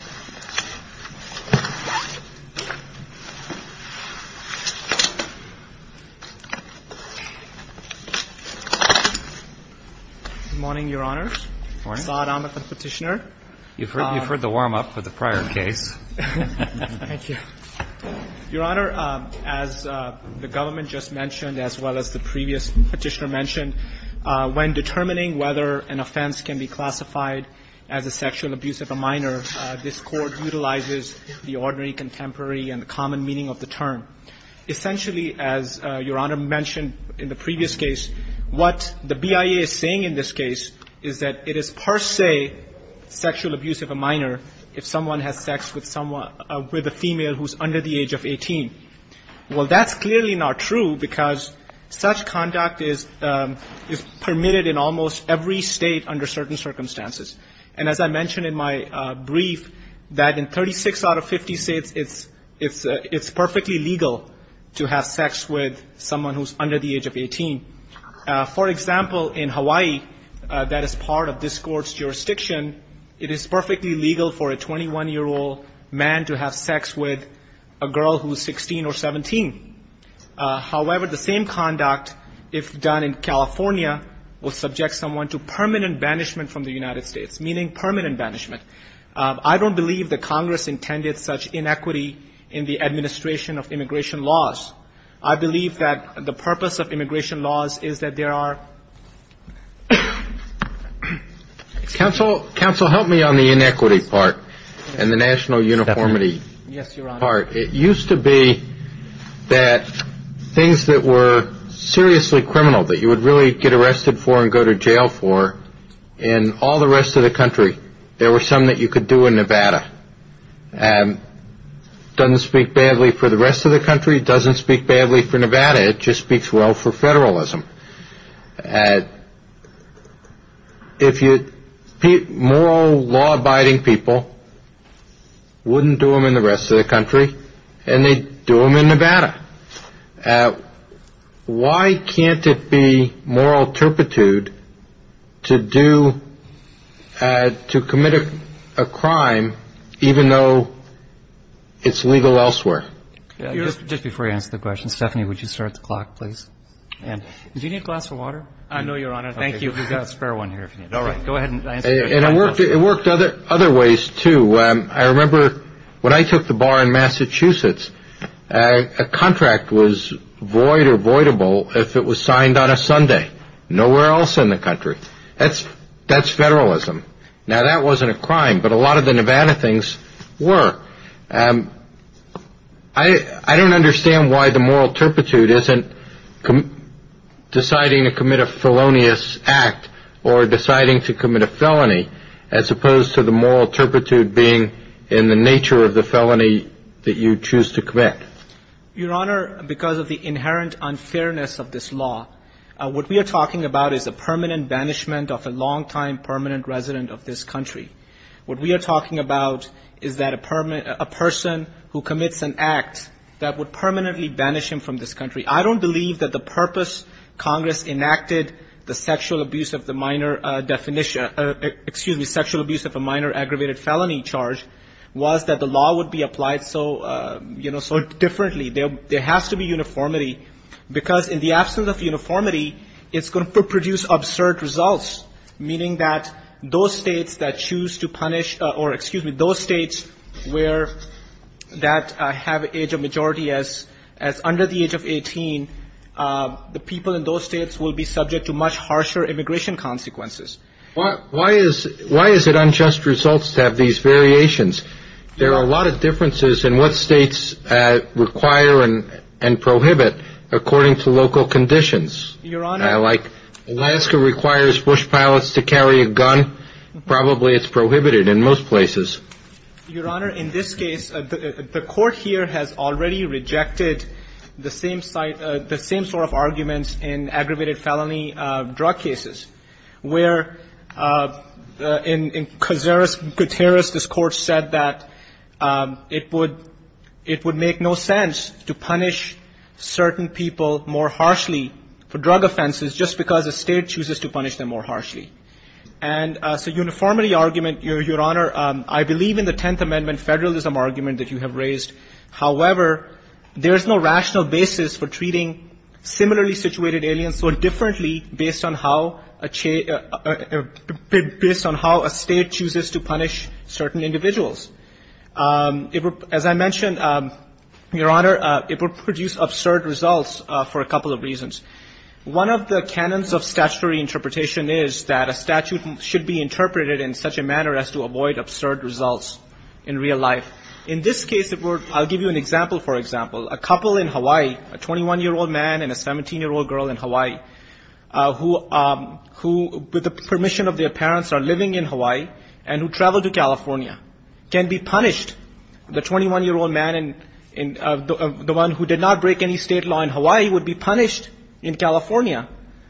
Good morning, Your Honor. Good morning. Saad Ahmed, the Petitioner. You've heard the warm-up for the prior case. Thank you. Your Honor, as the government just mentioned, as well as the previous Petitioner mentioned, when determining whether an offense can be classified as a sexual abuse of a minor, this Court utilizes the ordinary, contemporary, and the common meaning of the term. Essentially, as Your Honor mentioned in the previous case, what the BIA is saying in this case is that it is per se sexual abuse of a minor if someone has sex with someone – with a female who's under the age of 18. Well, that's clearly not true because such conduct is permitted in almost every state under certain circumstances. And as I mentioned in my brief, that in 36 out of 50 states, it's perfectly legal to have sex with someone who's under the age of 18. For example, in Hawaii, that is part of this Court's jurisdiction, it is perfectly legal for a 21-year-old man to have sex with a girl who's 16 or 17. However, the same conduct, if done in California, will subject someone to permanent banishment from the United States, meaning permanent banishment. I don't believe that Congress intended such inequity in the administration of immigration laws. I believe that the purpose of immigration laws is that there are – Counsel, counsel, help me on the inequity part and the national uniformity part. It used to be that things that were seriously criminal, that you would really get arrested for and go to jail for, in all the rest of the country, there were some that you could do in Nevada. And doesn't speak badly for the rest of the country, doesn't speak badly for Nevada, it just speaks well for federalism. If you – moral, law-abiding people wouldn't do them in the rest of the country, and they do them in Nevada. Why can't it be moral turpitude to do – to commit a crime even though it's legal elsewhere? Just before you answer the question, Stephanie, would you start the clock, please? Do you need a glass of water? I know, Your Honor. Thank you. We've got a spare one here if you need it. All right. Go ahead and answer the question. And it worked other ways, too. I remember when I took the bar in Massachusetts, a contract was void or voidable if it was signed on a Sunday. Nowhere else in the country. That's federalism. Now, that wasn't a crime, but a lot of the Nevada things were. I don't understand why the moral turpitude isn't deciding to commit a felonious act or deciding to commit a felony as opposed to the moral turpitude being in the nature of the felony that you choose to commit. Your Honor, because of the inherent unfairness of this law, what we are talking about is a permanent banishment of a longtime permanent resident of this country. What we are talking about is a person who commits an act that would permanently banish him from this country. I don't believe that the purpose Congress enacted the sexual abuse of a minor aggravated felony charge was that the law would be applied so differently. There has to be uniformity, because in the absence of uniformity, it's going to produce absurd results, meaning that those states that choose to punish or excuse me, those states where that have age of majority as under the age of 18, the people in those states will be subject to much harsher immigration consequences. Why is it unjust results to have these variations? There are a lot of differences in what states require and prohibit according to local conditions. Your Honor. Like Alaska requires bush pilots to carry a gun. Probably it's prohibited in most places. Your Honor, in this case, the court here has already rejected the same sort of arguments in aggravated felony drug cases, where in Cotteris, this court said that it would make no sense to punish certain people more harshly for drug offenses just because the state chooses to punish them more harshly. And so uniformity argument, Your Honor, I believe in the Tenth Amendment federalism argument that you have raised. However, there is no rational basis for treating similarly situated aliens so differently based on how a state chooses to punish certain individuals. As I mentioned, Your Honor, it would produce absurd results for a couple of reasons. One of the canons of statutory interpretation is that a statute should be interpreted in such a manner as to avoid absurd results in real life. In this case, I'll give you an example, for example. A couple in Hawaii, a 21-year-old man and a 17-year-old girl in Hawaii, who, with the permission of their parents, are living in Hawaii and who travel to California, can be punished. The 21-year-old man, the one who did not break any state law in Hawaii, would be punished in California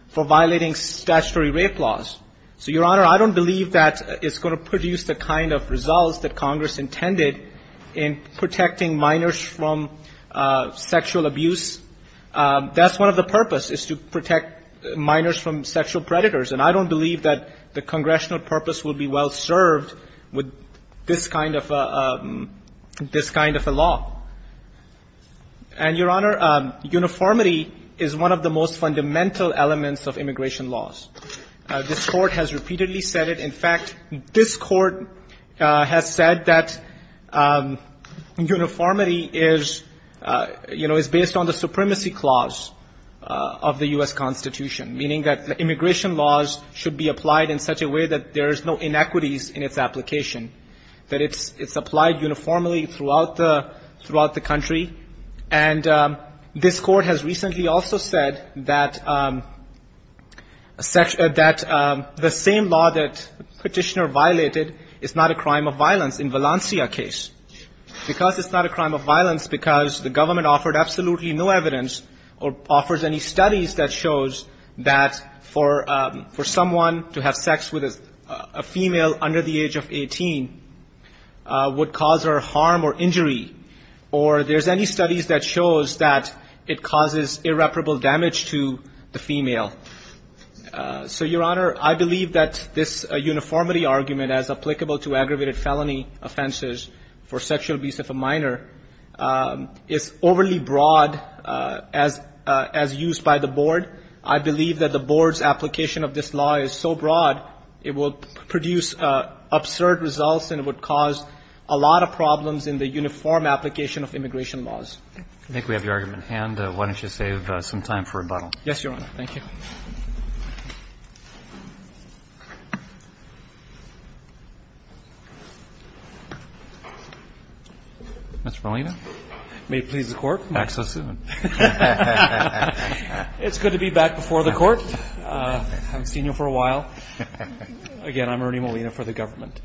for violating statutory rape laws. So, Your Honor, I don't believe that it's going to produce the kind of results that we're looking for in protecting minors from sexual abuse. That's one of the purposes, is to protect minors from sexual predators. And I don't believe that the congressional purpose will be well-served with this kind of a law. And, Your Honor, uniformity is one of the most fundamental elements of immigration laws. This Court has repeatedly said it. In fact, this Court has said that uniformity is, you know, is based on the supremacy clause of the U.S. Constitution, meaning that immigration laws should be applied in such a way that there is no inequities in its application, that it's applied uniformly throughout the country. And this Court has recently also said that the same law that the Petitioner violated is not a crime of violence in Valencia case, because it's not a crime of violence, because the government offered absolutely no evidence or offers any studies that shows that for someone to have sex with a female under the age of 18 would cause her harm or there's any studies that shows that it causes irreparable damage to the female. So Your Honor, I believe that this uniformity argument as applicable to aggravated felony offenses for sexual abuse of a minor is overly broad as used by the Board. I believe that the Board's application of this law is so broad it will produce absurd results and it would cause a lot of problems in the uniform application of immigration laws. Roberts. I think we have your argument in hand. Why don't you save some time for rebuttal? Yes, Your Honor. Thank you. Mr. Molina. May it please the Court. Back so soon. It's good to be back before the Court. I haven't seen you for a while. Again, I'm Ernie Molina for the government.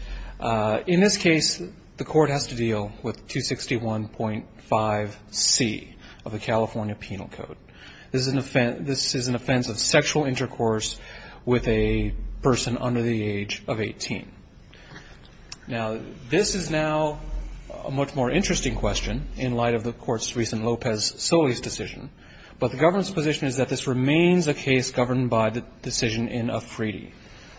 In this case, the Court has to deal with 261.5c of the California Penal Code. This is an offense of sexual intercourse with a person under the age of 18. Now, this is now a much more interesting question in light of the Court's recent Lopez-Solis decision, but the government's position is that this remains a case governed by the decision in a treaty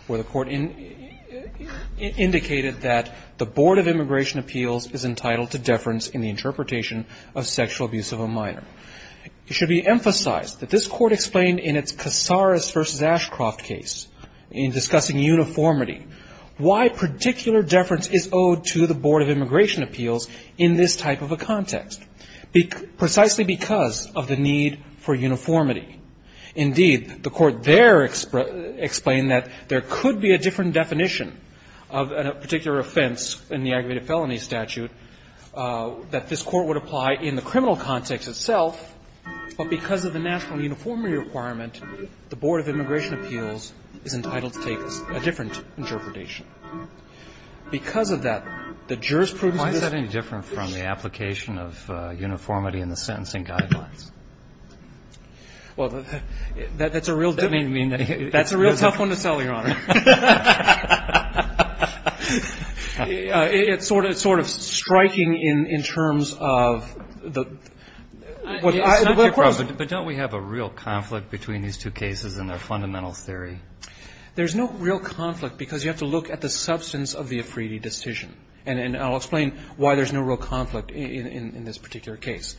where the Court indicated that the Board of Immigration Appeals is entitled to deference in the interpretation of sexual abuse of a minor. It should be emphasized that this Court explained in its Casares v. Ashcroft case in discussing uniformity why particular deference is owed to the Board of Immigration Appeals in this type of a context, precisely because of the need for uniformity. Indeed, the Court there explained that there could be a different definition of a particular offense in the aggravated felony statute that this Court would apply in the criminal context itself, but because of the national uniformity requirement, the Board of Immigration Appeals is entitled to take a different Because of that, the jurors' prudence in this case is that the Board of Immigration That's a real tough one to tell, Your Honor. It's sort of striking in terms of the question. But don't we have a real conflict between these two cases in their fundamental theory? There's no real conflict because you have to look at the substance of the Afridi decision, and I'll explain why there's no real conflict in this particular case.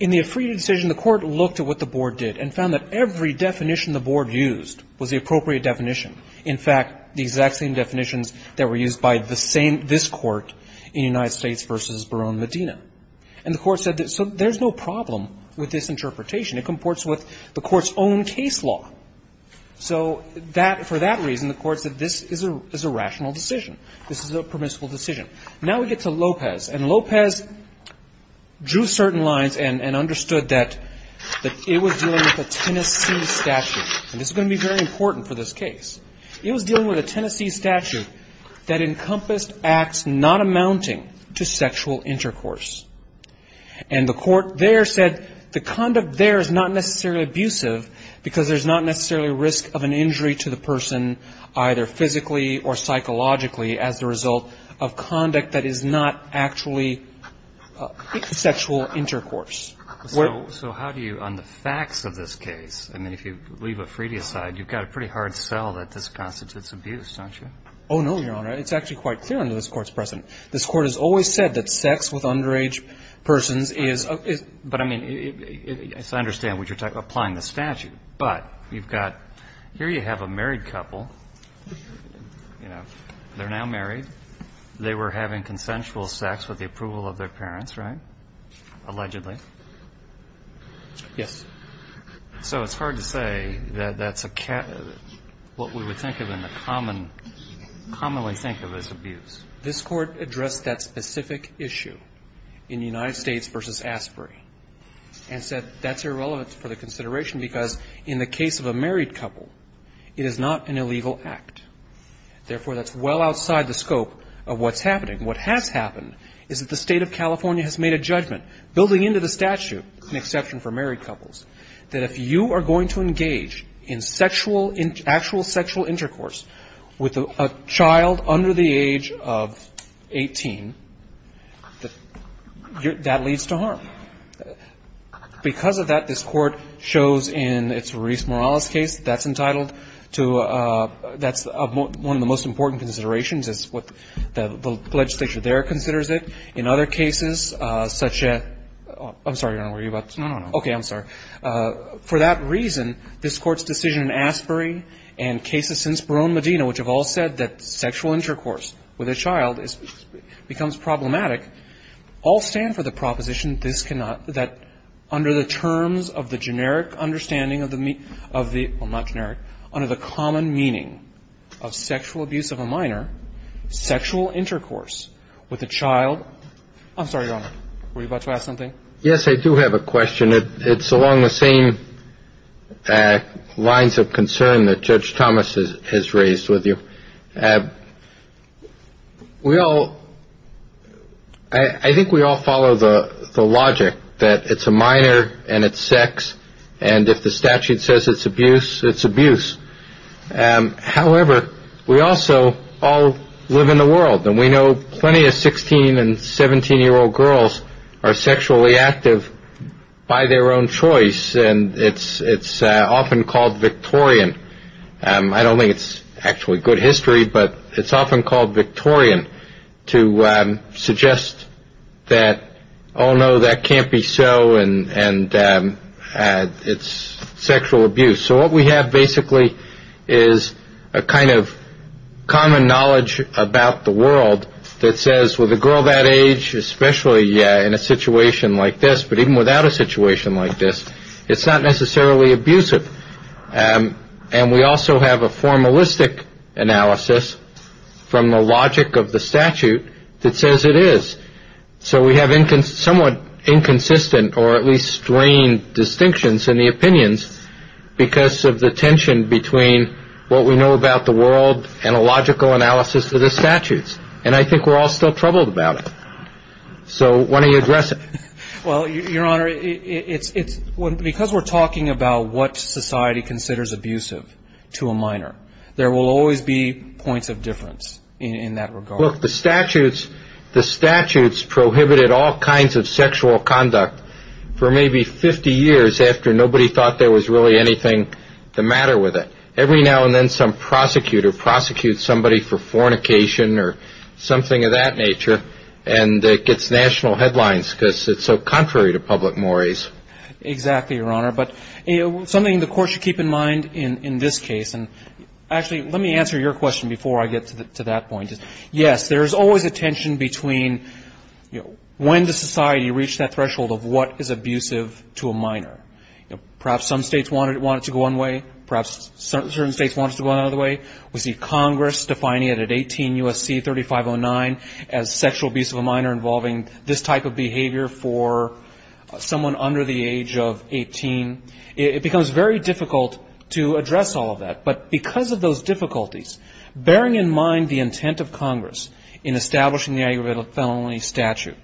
In the Afridi decision, the Court looked at what the Board did and found that every definition the Board used was the appropriate definition. In fact, the exact same definitions that were used by the same this Court in United States v. Barone Medina. And the Court said that so there's no problem with this interpretation. It comports with the Court's own case law. So that for that reason, the Court said this is a rational decision. This is a permissible decision. Now we get to Lopez. And Lopez drew certain lines and understood that it was dealing with a Tennessee statute. And this is going to be very important for this case. It was dealing with a Tennessee statute that encompassed acts not amounting to sexual intercourse. And the Court there said the conduct there is not necessarily abusive because there's not necessarily risk of an injury to the person either physically or It's a conduct that is not actually sexual intercourse. So how do you, on the facts of this case, I mean, if you leave Afridi aside, you've got a pretty hard sell that this constitutes abuse, don't you? Oh, no, Your Honor. It's actually quite clear under this Court's precedent. This Court has always said that sex with underage persons is a, is, but I mean, it's I understand what you're talking about, applying the statute. But you've got, here you have a married couple. You know, they're now married. They were having consensual sex with the approval of their parents, right? Allegedly. Yes. So it's hard to say that that's a, what we would think of in the common, commonly think of as abuse. This Court addressed that specific issue in United States v. Asprey and said that's irrelevant for the consideration because in the case of a married couple, it is not an illegal act. Therefore, that's well outside the scope of what's happening. What has happened is that the State of California has made a judgment, building into the statute, an exception for married couples, that if you are going to engage in sexual, actual sexual intercourse with a child under the age of 18, that leads to harm. Because of that, this Court shows in its Ruiz-Morales case, that's entitled to, that's one of the most important considerations is what the legislature there considers it. In other cases, such as, I'm sorry, I don't know where you're about to, okay, I'm sorry. For that reason, this Court's decision in Asprey and cases since Barone Medina, which have all said that sexual intercourse with a child is, becomes problematic, all stand for the proposition that this cannot, that under the terms of the generic understanding of the, well, not generic, under the common meaning of sexual abuse of a minor, sexual intercourse with a child, I'm sorry, Your Honor, were you about to ask something? Yes, I do have a question. It's along the same lines of concern that Judge Thomas has raised with you. We all, I think we all follow the logic that it's a minor and it's sex, and if the statute says it's abuse, it's abuse. However, we also all live in the world, and we know plenty of 16 and 17-year-old girls are sexually active by their own choice, and it's often called Victorian. I don't think it's actually good history, but it's often called Victorian to suggest that, oh, no, that can't be so, and it's sexual abuse. So what we have, basically, is a kind of common knowledge about the world that says, with a girl that age, especially in a situation like this, but even without a situation like this, it's not necessarily abusive, and we also have a formalistic analysis from the So we have somewhat inconsistent or at least strained distinctions in the opinions because of the tension between what we know about the world and a logical analysis of the statutes, and I think we're all still troubled about it. So why don't you address it? Well, Your Honor, because we're talking about what society considers abusive to a minor, there will always be points of difference in that regard. Look, the statutes prohibited all kinds of sexual conduct for maybe 50 years after nobody thought there was really anything the matter with it. Every now and then some prosecutor prosecutes somebody for fornication or something of that nature, and it gets national headlines because it's so contrary to public mores. Exactly, Your Honor, but something the Court should keep in mind in this case, and actually let me answer your question before I get to that point. Yes, there's always a tension between when does society reach that threshold of what is abusive to a minor? Perhaps some states want it to go one way, perhaps certain states want it to go another way. We see Congress defining it at 18 U.S.C. 3509 as sexual abuse of a minor involving this type of behavior for someone under the age of 18. It becomes very difficult to address all of that, but because of those difficulties, bearing in mind the intent of Congress in establishing the aggravated felony statute,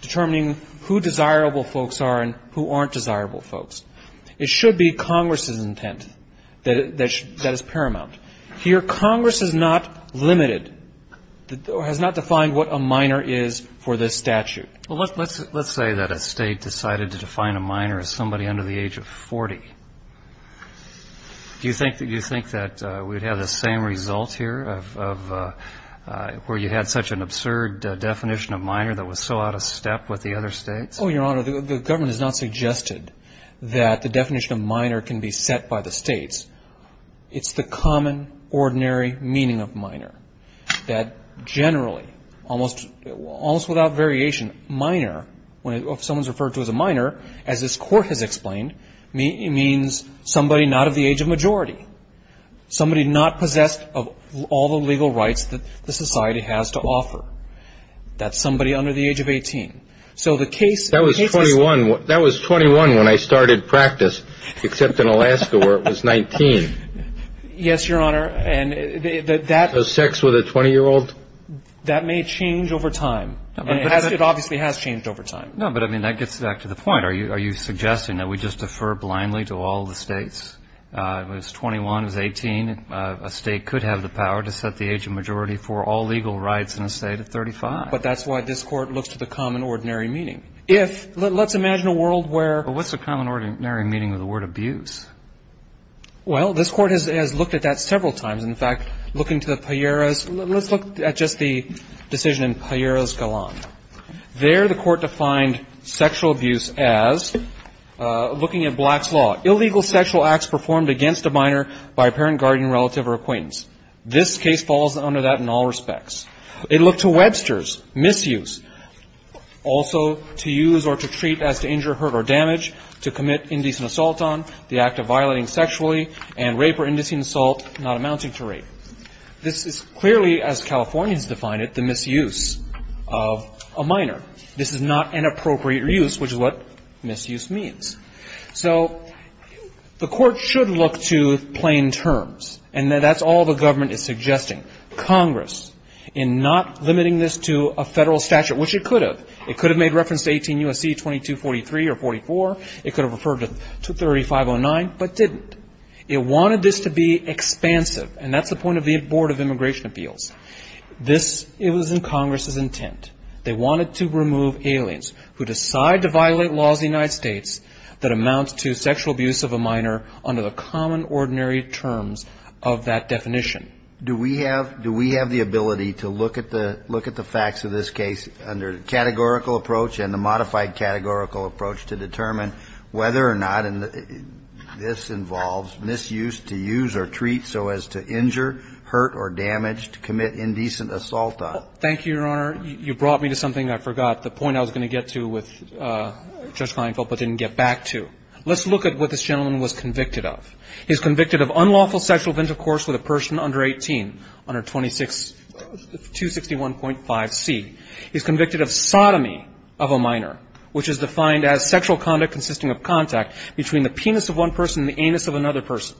determining who desirable folks are and who aren't desirable folks, it should be Congress's intent that is paramount. Here Congress has not limited, has not defined what a minor is for this statute. Well, let's say that a state decided to define a minor as somebody under the age of 40. Do you think that we'd have the same result here of where you had such an absurd definition of minor that was so out of step with the other states? Oh, Your Honor, the government has not suggested that the definition of minor can be set by the states. It's the common, ordinary meaning of minor, that generally, almost without variation, minor, if someone's referred to as a minor, as this Court has explained, means somebody not of the age of majority, somebody not possessed of all the legal rights that the society has to offer. That's somebody under the age of 18. So the case is ---- That was 21 when I started practice, except in Alaska where it was 19. Yes, Your Honor, and that ---- So sex with a 20-year-old? That may change over time. It obviously has changed over time. No, but, I mean, that gets back to the point. Are you suggesting that we just defer blindly to all the states? It was 21, it was 18. A state could have the power to set the age of majority for all legal rights in a state at 35. But that's why this Court looks to the common, ordinary meaning. If ---- let's imagine a world where ---- But what's the common, ordinary meaning of the word abuse? Well, this Court has looked at that several times. In fact, looking to the Palleras ---- let's look at just the decision in Palleras-Galan. There the Court defined sexual abuse as, looking at Black's Law, illegal sexual acts performed against a minor by a parent, guardian, relative, or acquaintance. This case falls under that in all respects. It looked to Webster's, misuse, also to use or to treat as to injure, hurt, or damage, to commit indecent assault on, the act of violating sexually, and rape or indecent assault not amounting to rape. This is clearly, as Californians define it, the misuse of a minor. This is not an appropriate use, which is what misuse means. So the Court should look to plain terms. And that's all the government is suggesting. Congress, in not limiting this to a Federal statute, which it could have, it could have made reference to 18 U.S.C. 2243 or 44. It could have referred to 3509, but didn't. It wanted this to be expansive. And that's the point of the Board of Immigration Appeals. This, it was in Congress's intent. They wanted to remove aliens who decide to violate laws in the United States that amount to sexual abuse of a minor under the common, ordinary terms of that definition. Kennedy. Do we have the ability to look at the facts of this case under the categorical approach and the modified categorical approach to determine whether or not this involves misuse to use or treat so as to injure, hurt, or damage, to commit indecent assault on? Thank you, Your Honor. You brought me to something I forgot, the point I was going to get to with Judge Kleinfeld, but didn't get back to. Let's look at what this gentleman was convicted of. He was convicted of unlawful sexual intercourse with a person under 18, under 261.5C. He was convicted of sodomy of a minor, which is defined as sexual conduct consisting of contact between the penis of one person and the anus of another person.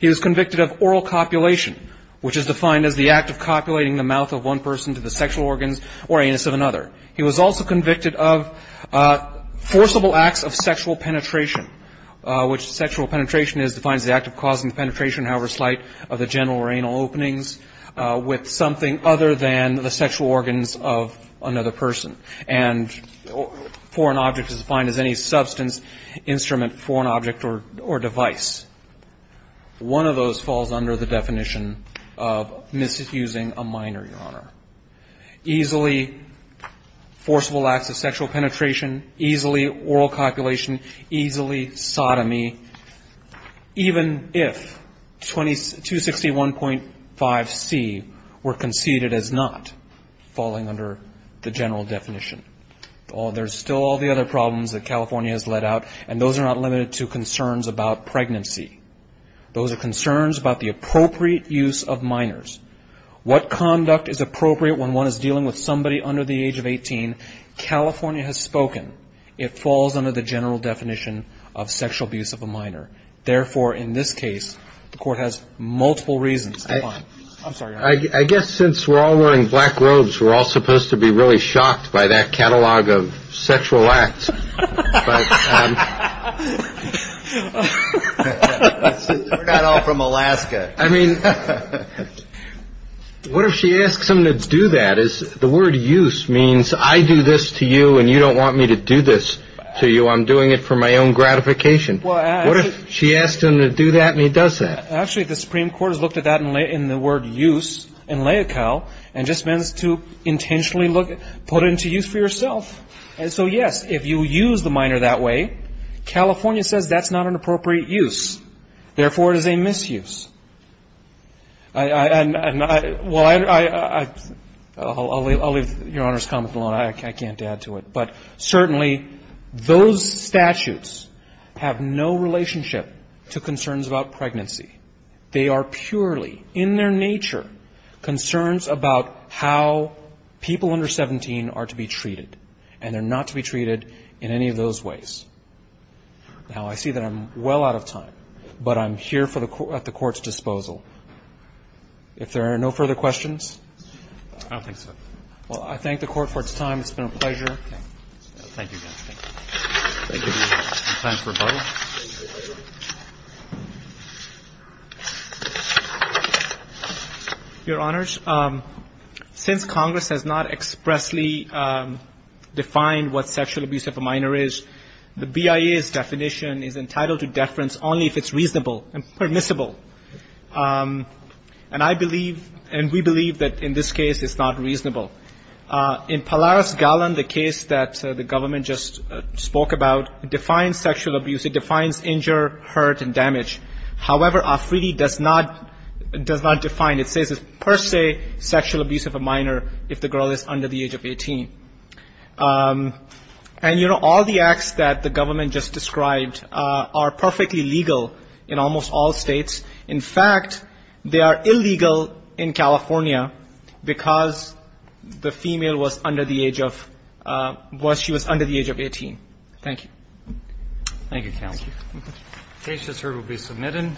He was convicted of oral copulation, which is defined as the act of copulating the mouth of one person to the sexual organs or anus of another. He was also convicted of forcible acts of sexual penetration, which sexual penetration is defined as the act of causing the penetration, however slight, of the genital or anal openings with something other than the sexual organs of another person, and for an object is defined as any substance, instrument, foreign object or device. One of those falls under the definition of misusing a minor, Your Honor. Easily forcible acts of sexual penetration, easily oral copulation, easily sodomy even if 261.5C were conceded as not falling under the general definition. There's still all the other problems that California has let out, and those are not limited to concerns about pregnancy. Those are concerns about the appropriate use of minors. What conduct is appropriate when one is dealing with somebody under the age of 18? Again, California has spoken. It falls under the general definition of sexual abuse of a minor. Therefore, in this case, the Court has multiple reasons. I'm sorry, Your Honor. I guess since we're all wearing black robes, we're all supposed to be really shocked by that catalog of sexual acts. We're not all from Alaska. I mean, what if she asks him to do that? The word use means I do this to you and you don't want me to do this to you. I'm doing it for my own gratification. What if she asks him to do that and he does that? Actually, the Supreme Court has looked at that in the word use in LAICAL and just means to intentionally put it into use for yourself. And so, yes, if you use the minor that way, California says that's not an appropriate use. Therefore, it is a misuse. I'll leave Your Honor's comment alone. I can't add to it. But certainly, those statutes have no relationship to concerns about pregnancy. They are purely, in their nature, concerns about how people under 17 are to be treated, and they're not to be treated in any of those ways. Now, I see that I'm well out of time, but I'm here at the Court's disposal. If there are no further questions? I don't think so. Well, I thank the Court for its time. It's been a pleasure. Thank you. Thank you. Any time for a vote? Your Honors, since Congress has not expressly defined what sexual abuse of a minor is, the BIA's definition is entitled to deference only if it's reasonable and permissible. And I believe, and we believe, that in this case, it's not reasonable. In Polaris Gallon, the case that the government just spoke about, it defines sexual abuse. It defines injure, hurt, and damage. However, AFRIDI does not define it. It says it's per se sexual abuse of a minor if the girl is under the age of 18. And, you know, all the acts that the government just described are perfectly legal in almost all states. In fact, they are illegal in California because the female was under the age of 18. Thank you. Thank you, Counsel. The case that's heard will be submitted.